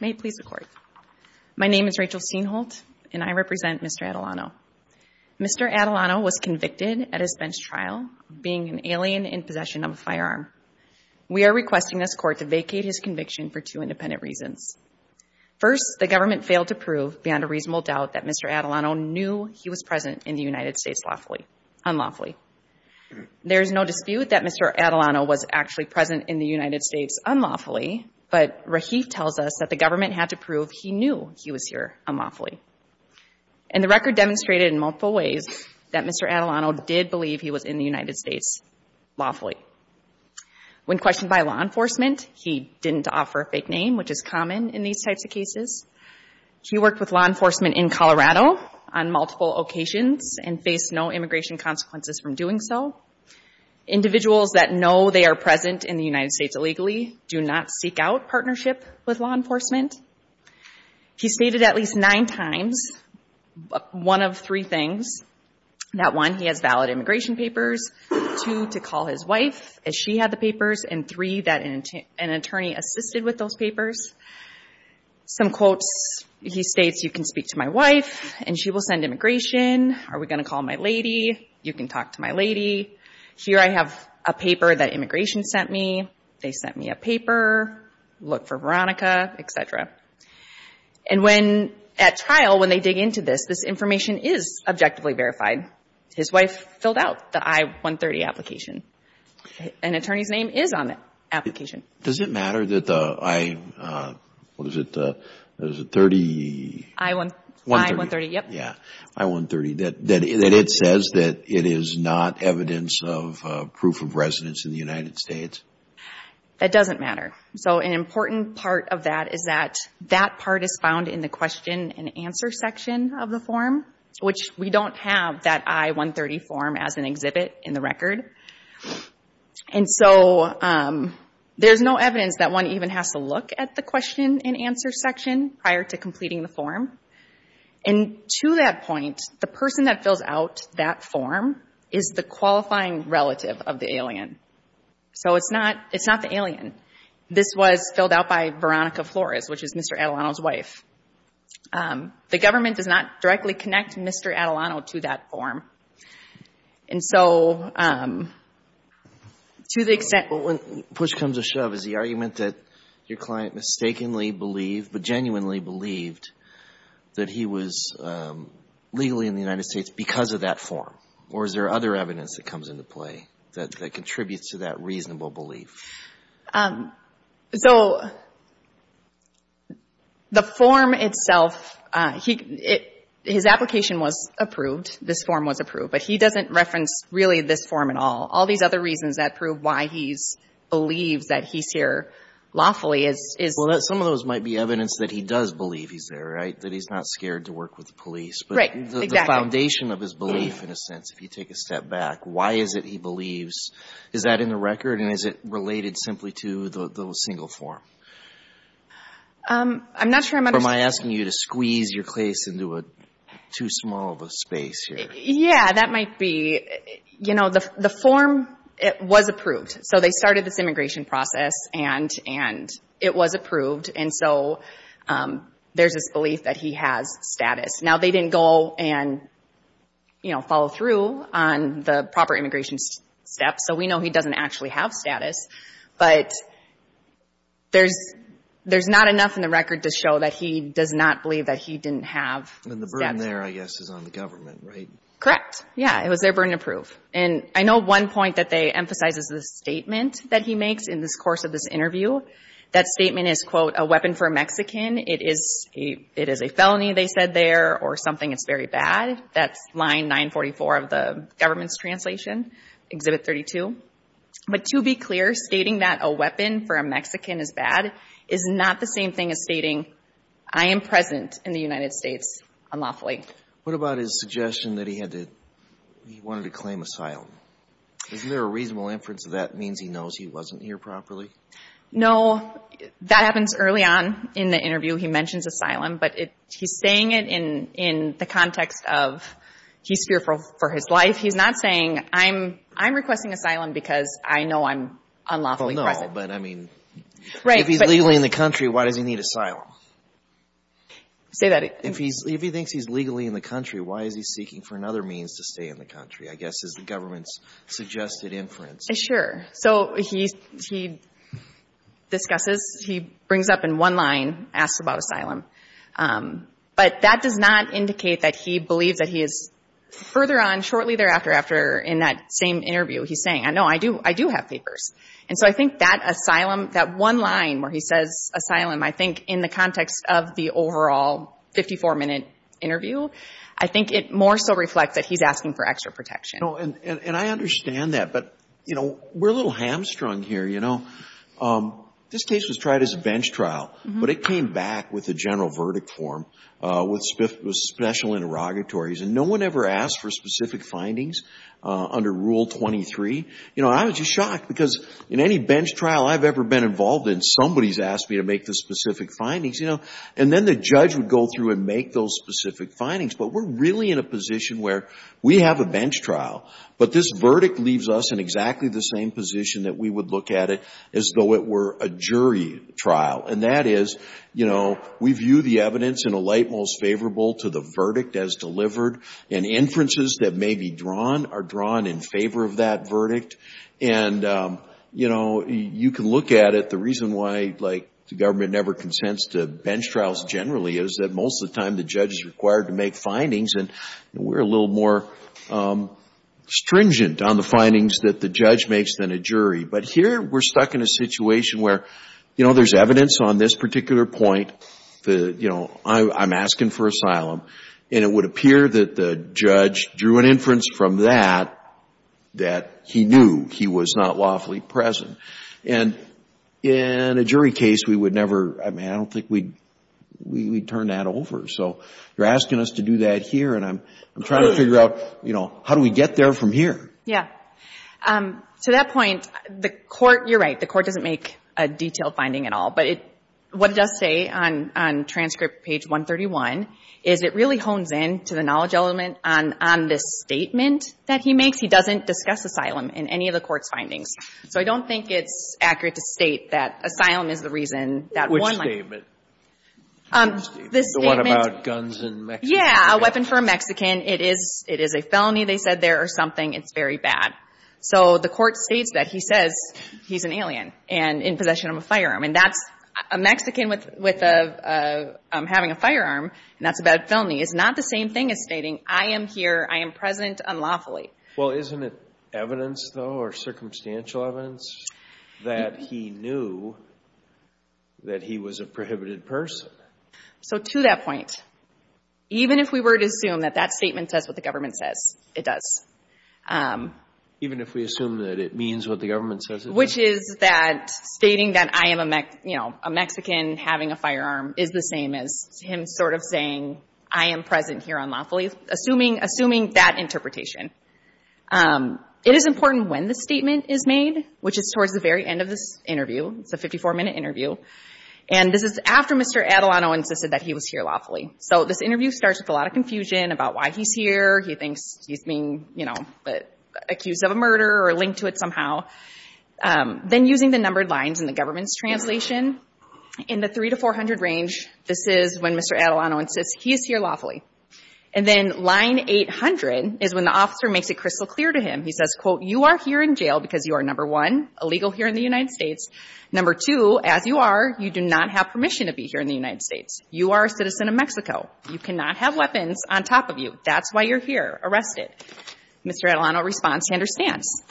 May it please the Court, my name is Rachel Steenholt and I represent Mr. Atilano. Mr. Atilano was convicted at his bench trial of being an alien in possession of a firearm. We are requesting this Court to vacate his conviction for two independent reasons. First, the government failed to prove beyond a reasonable doubt that Mr. Atilano knew he was present in the United States lawfully, unlawfully. There is no dispute that Mr. Atilano was actually present in the United States unlawfully, but Rahif tells us that the government had to prove he knew he was here unlawfully. And the record demonstrated in multiple ways that Mr. Atilano did believe he was in the United States lawfully. When questioned by law enforcement, he didn't offer a fake name, which is common in these types of cases. He worked with law enforcement in Colorado on multiple occasions and faced no immigration consequences from doing so. Individuals that know they are present in the United States illegally do not seek out partnership with law enforcement. He stated at least nine times one of three things. That one, he has valid immigration papers. Two, to call his wife, as she had the papers. And three, that an attorney assisted with those papers. Some quotes, he states, you can speak to my wife and she will send immigration. Are we going to call my lady? You can talk to my lady. Here I have a paper that immigration sent me. They sent me a paper. Look for Veronica, et cetera. And when, at trial, when they dig into this, this information is objectively verified. His wife filled out the I-130 application. An attorney's name is on the application. Does it matter that the I, what is it, the 30? I-130. I-130, yep. Yeah. I-130. That it says that it is not evidence of proof of residence in the United States? That doesn't matter. So an important part of that is that that part is found in the question and answer section of the form, which we don't have that I-130 form as an exhibit in the record. And so there's no evidence that one even has to look at the question and answer section prior to completing the form. And to that point, the person that fills out that form is the qualifying relative of the alien. So it's not, it's not the alien. This was filled out by Veronica Flores, which is Mr. Adelano's wife. The government does not directly connect Mr. Adelano to that form. And so, to the extent- But when push comes to shove, is the argument that your client mistakenly believed, but genuinely believed, that he was legally in the United States because of that form? Or is there other evidence that comes into play that contributes to that reasonable belief? So, the form itself, his application was approved, this form was approved. But he doesn't reference really this form at all. All these other reasons that prove why he believes that he's here lawfully is- Well, some of those might be evidence that he does believe he's there, right? That he's not scared to work with the police. Right. Exactly. The foundation of his belief, in a sense, if you take a step back, why is it he believes? Is that in the record? And is it related simply to the single form? I'm not sure I'm understanding- Or am I asking you to squeeze your case into too small of a space here? Yeah. That might be. You know, the form, it was approved. So they started this immigration process and it was approved. And so, there's this belief that he has status. Now, they didn't go and, you know, follow through on the proper immigration steps. So we know he doesn't actually have status. But there's not enough in the record to show that he does not believe that he didn't have status. And the burden there, I guess, is on the government, right? Correct. Yeah. It was their burden to prove. And I know one point that they emphasize is the statement that he makes in this course of this interview. That statement is, quote, a weapon for a Mexican. It is a felony, they said there, or something that's very bad. That's line 944 of the government's translation, Exhibit 32. But to be clear, stating that a weapon for a Mexican is bad is not the same thing as stating I am present in the United States unlawfully. What about his suggestion that he had to, he wanted to claim asylum? Isn't there a reasonable inference that that means he knows he wasn't here properly? No. Well, that happens early on in the interview. He mentions asylum. But he's saying it in the context of he's fearful for his life. He's not saying I'm requesting asylum because I know I'm unlawfully present. Well, no. But, I mean, if he's legally in the country, why does he need asylum? Say that again. If he thinks he's legally in the country, why is he seeking for another means to stay in the country, I guess, is the government's suggested inference. Sure. So he discusses, he brings up in one line, asks about asylum. But that does not indicate that he believes that he is further on shortly thereafter after in that same interview, he's saying, no, I do have papers. And so I think that asylum, that one line where he says asylum, I think in the context of the overall 54-minute interview, I think it more so reflects that he's asking for extra protection. And I understand that. But, you know, we're a little hamstrung here, you know. This case was tried as a bench trial. But it came back with a general verdict form with special interrogatories. And no one ever asked for specific findings under Rule 23. You know, I was just shocked because in any bench trial I've ever been involved in, somebody's asked me to make the specific findings, you know. And then the judge would go through and make those specific findings. But we're really in a position where we have a bench trial, but this verdict leaves us in exactly the same position that we would look at it as though it were a jury trial. And that is, you know, we view the evidence in a light most favorable to the verdict as delivered. And inferences that may be drawn are drawn in favor of that verdict. And you know, you can look at it, the reason why, like, the government never consents to findings. And we're a little more stringent on the findings that the judge makes than a jury. But here we're stuck in a situation where, you know, there's evidence on this particular point that, you know, I'm asking for asylum, and it would appear that the judge drew an inference from that that he knew he was not lawfully present. And in a jury case, we would never, I mean, I don't think we'd turn that over. So you're asking us to do that here, and I'm trying to figure out, you know, how do we get there from here? Yeah. To that point, the court, you're right, the court doesn't make a detailed finding at all. But what it does say on transcript page 131 is it really hones in to the knowledge element on this statement that he makes. He doesn't discuss asylum in any of the court's findings. So I don't think it's accurate to state that asylum is the reason that one might Which statement? Which statement? The one about guns and Mexican weapons? Yeah, a weapon for a Mexican. It is a felony, they said there, or something. It's very bad. So the court states that. He says he's an alien and in possession of a firearm. And that's, a Mexican with a, having a firearm, and that's a bad felony, is not the same thing as stating, I am here, I am present unlawfully. Well, isn't it evidence, though, or circumstantial evidence that he knew that he was a prohibited person? So to that point, even if we were to assume that that statement says what the government says, it does. Even if we assume that it means what the government says it does? Which is that stating that I am a Mexican having a firearm is the same as him sort of saying I am present here unlawfully, assuming that interpretation. It is important when the statement is made, which is towards the very end of this interview. It's a 54-minute interview. And this is after Mr. Adelanto insisted that he was here lawfully. So this interview starts with a lot of confusion about why he's here. He thinks he's being, you know, accused of a murder or linked to it somehow. Then using the numbered lines in the government's translation, in the 300 to 400 range, this is when Mr. Adelanto insists he is here lawfully. And then line 800 is when the officer makes it crystal clear to him. He says, quote, you are here in jail because you are, number one, illegal here in the United States. Number two, as you are, you do not have permission to be here in the United States. You are a citizen of Mexico. You cannot have weapons on top of you. That's why you're here. Arrested. Mr. Adelanto responds, he understands.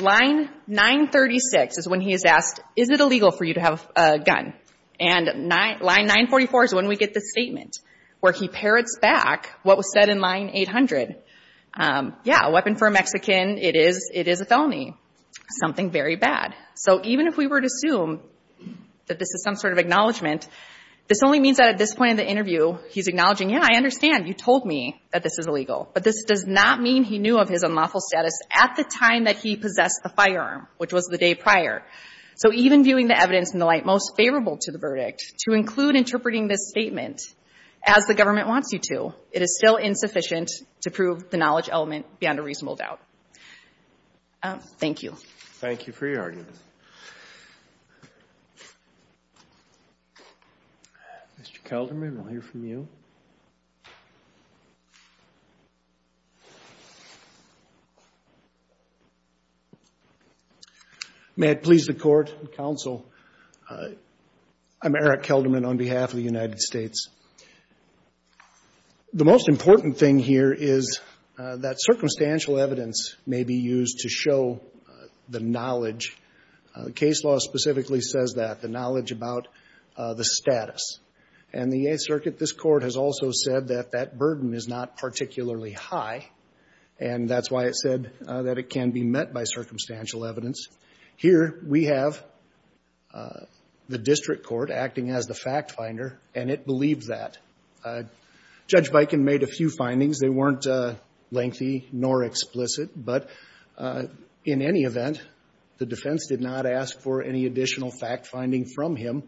Line 936 is when he is asked, is it illegal for you to have a gun? And line 944 is when we get the statement where he parrots back what was said in line 800. Yeah, a weapon for a Mexican, it is a felony. Something very bad. So even if we were to assume that this is some sort of acknowledgment, this only means that at this point in the interview, he's acknowledging, yeah, I understand. You told me that this is illegal. But this does not mean he knew of his unlawful status at the time that he possessed the firearm, which was the day prior. So even viewing the evidence in the light most favorable to the verdict, to include interpreting this statement as the government wants you to, it is still insufficient to prove the knowledge element beyond a reasonable doubt. Thank you. Thank you for your argument. Mr. Kelderman, we'll hear from you. May it please the Court and counsel, I'm Eric Kelderman on behalf of the United States. The most important thing here is that circumstantial evidence may be used to show the knowledge. Case law specifically says that, the knowledge about the status. And the Eighth Circuit, this Court has also said that that burden is not particularly high, and that's why it said that it can be met by circumstantial evidence. Here we have the district court acting as the fact finder, and it believes that. Judge Viken made a few findings. They weren't lengthy nor explicit, but in any event, the defense did not ask for any additional fact finding from him,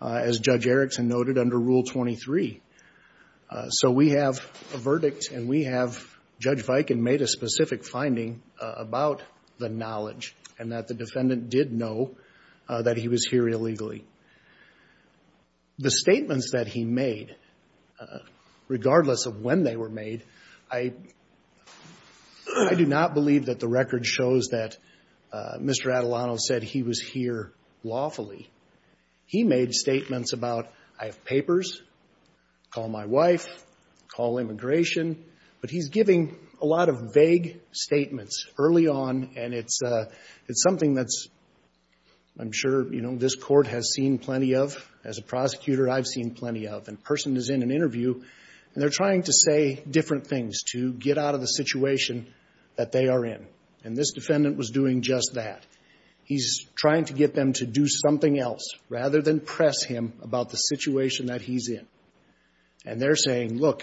as Judge Erickson noted under Rule 23. So we have a verdict, and we have, Judge Viken made a specific finding about the defendant did know that he was here illegally. The statements that he made, regardless of when they were made, I do not believe that the record shows that Mr. Adelano said he was here lawfully. He made statements about, I have papers, call my wife, call immigration. But he's giving a lot of vague statements early on, and it's something that's I'm sure, you know, this Court has seen plenty of. As a prosecutor, I've seen plenty of. And a person is in an interview, and they're trying to say different things to get out of the situation that they are in. And this defendant was doing just that. He's trying to get them to do something else, rather than press him about the situation that he's in. And they're saying, look,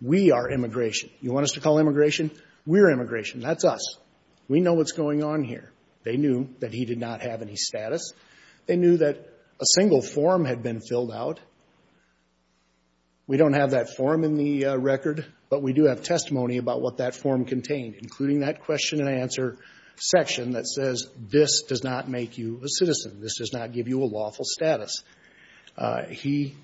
we are immigration. You want us to call immigration? We're immigration. That's us. We know what's going on here. They knew that he did not have any status. They knew that a single form had been filled out. We don't have that form in the record, but we do have testimony about what that form contained, including that question-and-answer section that says this does not make you a citizen. This does not give you a lawful status. He,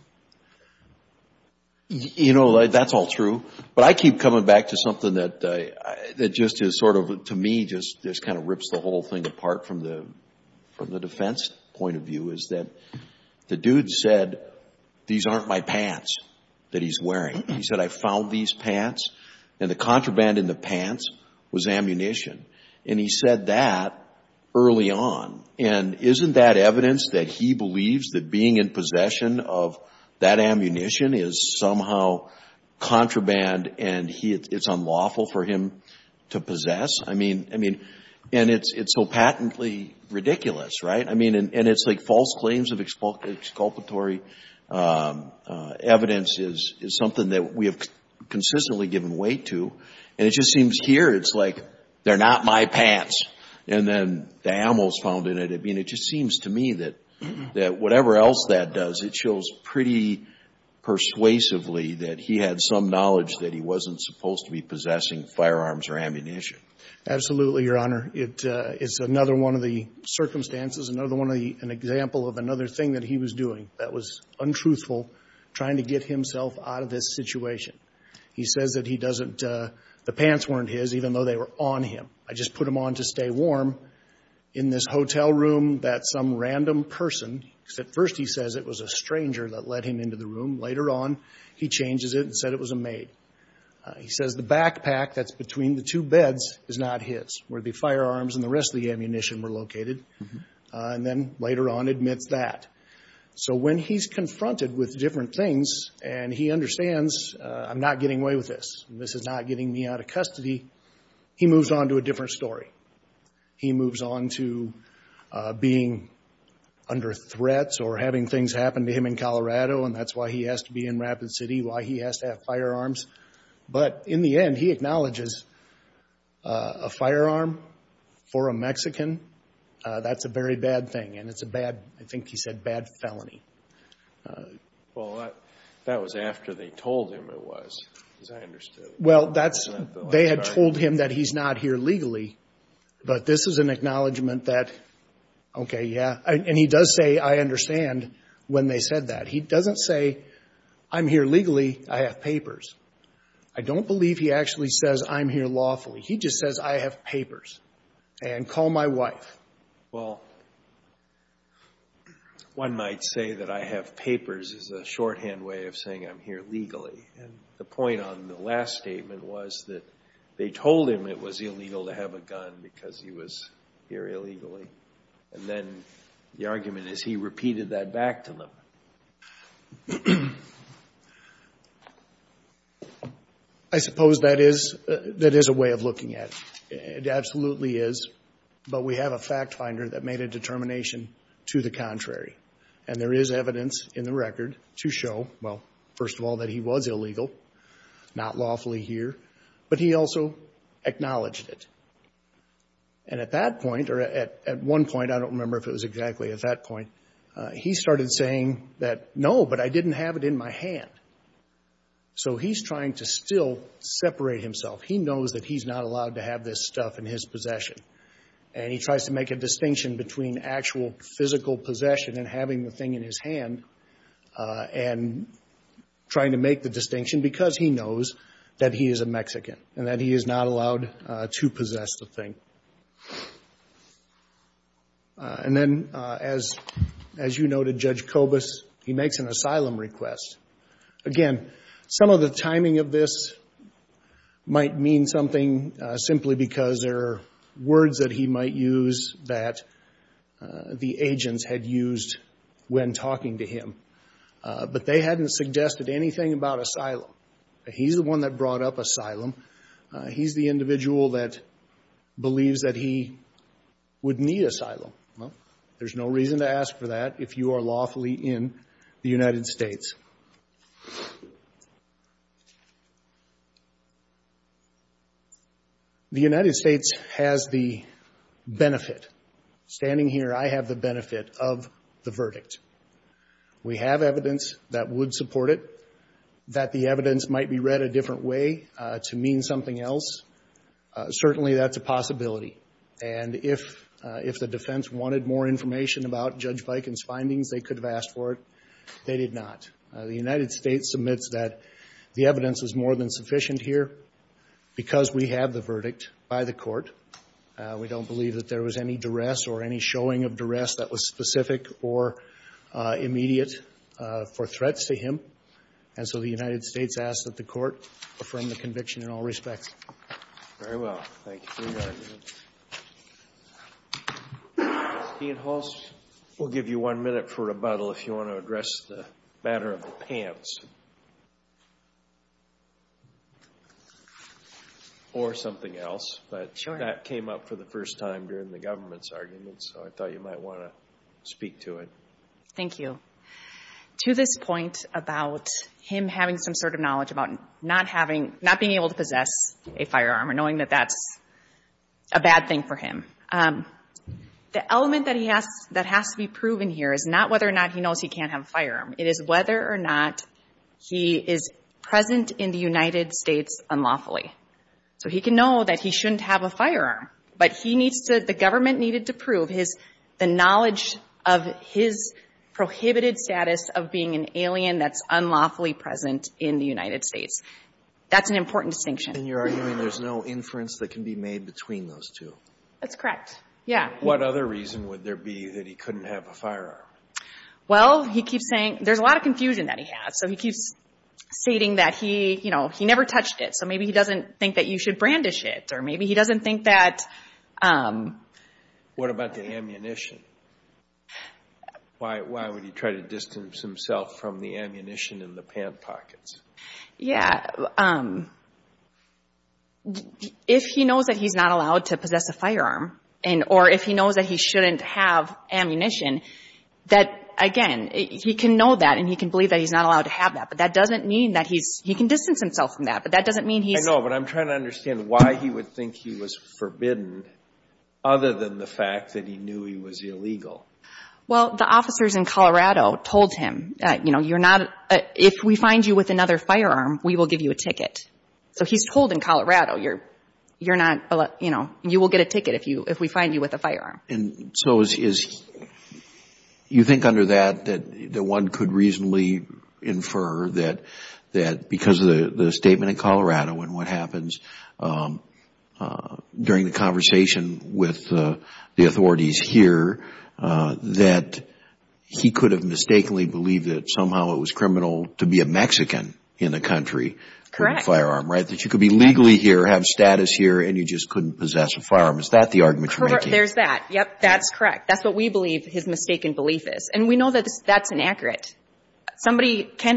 you know, that's all true. But I keep coming back to something that just is sort of, to me, just kind of rips the whole thing apart from the defense point of view, is that the dude said, these aren't my pants that he's wearing. He said, I found these pants, and the contraband in the pants was ammunition. And he said that early on. And isn't that evidence that he believes that being in possession of that ammunition is somehow contraband, and it's unlawful for him to possess? I mean, and it's so patently ridiculous, right? I mean, and it's like false claims of exculpatory evidence is something that we have consistently given weight to. And it just seems here, it's like, they're not my pants. And then the ammo's found in it. I mean, it just seems to me that whatever else that does, it shows pretty persuasively that he had some knowledge that he wasn't supposed to be possessing firearms or ammunition. Absolutely, Your Honor. It's another one of the circumstances, another one of the, an example of another thing that he was doing that was untruthful, trying to get himself out of this situation. He says that he doesn't, the pants weren't his, even though they were on him. I just put them on to stay warm in this hotel room that some random person, except first he says it was a stranger that led him into the room. Later on, he changes it and said it was a maid. He says the backpack that's between the two beds is not his, where the firearms and the rest of the ammunition were located. And then later on admits that. So when he's confronted with different things and he understands, I'm not getting away with this, this is not getting me out of custody, he moves on to a different story. He moves on to being under threats or having things happen to him in Colorado, and that's why he has to be in Rapid City, why he has to have firearms. But in the end, he acknowledges a firearm for a Mexican, that's a very bad thing. And it's a bad, I think he said bad felony. Well, that was after they told him it was, as I understood. Well, that's, they had told him that he's not here legally, but this is an acknowledgment that, okay, yeah, and he does say I understand when they said that. He doesn't say I'm here legally, I have papers. I don't believe he actually says I'm here lawfully. He just says I have papers and call my wife. Well, one might say that I have papers is a shorthand way of saying I'm here legally. And the point on the last statement was that they told him it was illegal to have a gun because he was here illegally. And then the argument is he repeated that back to them. I suppose that is, that is a way of looking at it. It absolutely is. But we have a fact finder that made a determination to the contrary. And there is evidence in the record to show, well, first of all, that he was illegal, not lawfully here, but he also acknowledged it. And at that point, or at one point, I don't remember if it was exactly at that point, he started saying that, no, but I didn't have it in my hand. So he's trying to still separate himself. He knows that he's not allowed to have this stuff in his possession. And he tries to make a distinction between actual physical possession and having the thing in his hand and trying to make the distinction, because he knows that he is a Mexican and that he is not allowed to possess the thing. And then, as you noted, Judge Kobus, he makes an asylum request. Again, some of the timing of this might mean something, simply because there are words that he might use that the agents had used when talking to him. But they hadn't suggested anything about asylum. He's the one that brought up asylum. He's the individual that believes that he would need asylum. There's no reason to ask for that if you are lawfully in the United States. The United States has the benefit. Standing here, I have the benefit of the verdict. We have evidence that would support it, that the evidence might be read a different way to mean something else. Certainly, that's a possibility. And if the defense wanted more information about Judge Bikin's findings, they could have asked for it. They did not. The United States submits that the evidence is more than sufficient here because we have the verdict by the court. We don't believe that there was any duress or any showing of duress that was specific or immediate for threats to him. And so, the United States asks that the court affirm the conviction in all respects. Very well. Thank you for your argument. Dean Hulse, we'll give you one minute for rebuttal if you want to address the matter of the pants. Or something else. But that came up for the first time during the government's argument, so I thought you might want to speak to it. Thank you. To this point about him having some sort of knowledge about not being able to possess a firearm or knowing that that's a bad thing for him, the element that has to be proven here is not whether or not he knows he can't have a firearm. It is whether or not he is present in the United States unlawfully. So, he can know that he shouldn't have a firearm, but the government needed to prove the knowledge of his prohibited status of being an alien that's unlawfully present in the United States. That's an important distinction. And you're arguing there's no inference that can be made between those two? That's correct. Yeah. What other reason would there be that he couldn't have a firearm? Well, he keeps saying there's a lot of confusion that he has. So, he keeps stating that he, you know, he never touched it. So, maybe he doesn't think that you should brandish it or maybe he doesn't think that... What about the ammunition? Why would he try to distance himself from the ammunition in the pant pockets? Yeah. If he knows that he's not allowed to possess a firearm or if he knows that he shouldn't have ammunition, that, again, he can know that and he can believe that he's not allowed to have that, but that doesn't mean that he's... He can distance himself from that, but that doesn't mean he's... I know, but I'm trying to understand why he would think he was forbidden other than the fact that he knew he was illegal. Well, the officers in Colorado told him, you know, you're not... If we find you with another firearm, we will give you a ticket. So, he's told in Colorado, you're not, you know, you will get a ticket if we find you with a firearm. And so, you think under that, that one could reasonably infer that because of the statement in Colorado and what happens during the conversation with the authorities here, that he could have mistakenly believed that somehow it was criminal to be a Mexican in the country with a firearm, right? That you could be legally here, have status here, and you just couldn't possess a firearm. Is that the argument you're making? There's that. Yep, that's correct. That's what we believe his mistaken belief is. And we know that that's inaccurate. Somebody can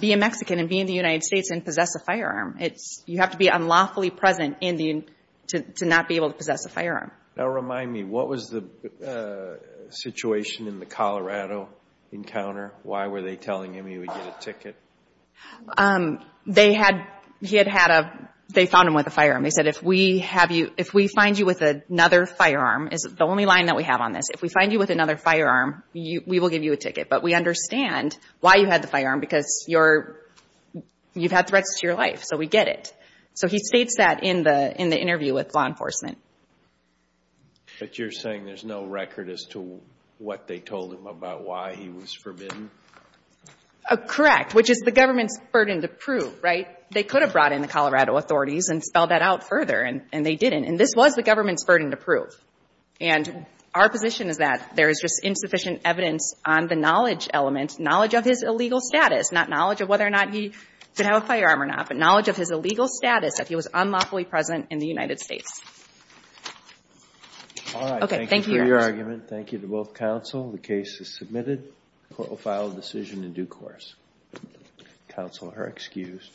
be a Mexican and be in the United States and possess a firearm. You have to be unlawfully present to not be able to possess a firearm. Now, remind me, what was the situation in the Colorado encounter? Why were they telling him he would get a ticket? They had, he had had a, they found him with a firearm. They said, if we have you, if we find you with another firearm, is the only line that we have on this. If we find you with another firearm, we will give you a ticket. But we understand why you had the firearm because you're, you've had threats to your life, so we get it. So, he states that in the interview with law enforcement. But you're saying there's no record as to what they told him about why he was forbidden? Correct. Which is the government's burden to prove, right? They could have brought in the Colorado authorities and spelled that out further, and they didn't. And this was the government's burden to prove. And our position is that there is just insufficient evidence on the knowledge element, knowledge of his illegal status, not knowledge of whether or not he could have a firearm or not, but knowledge of his illegal status if he was unlawfully present in the United States. All right. Thank you for your argument. Thank you to both counsel. The case is submitted. Court will file a decision in due course. Counsel are excused.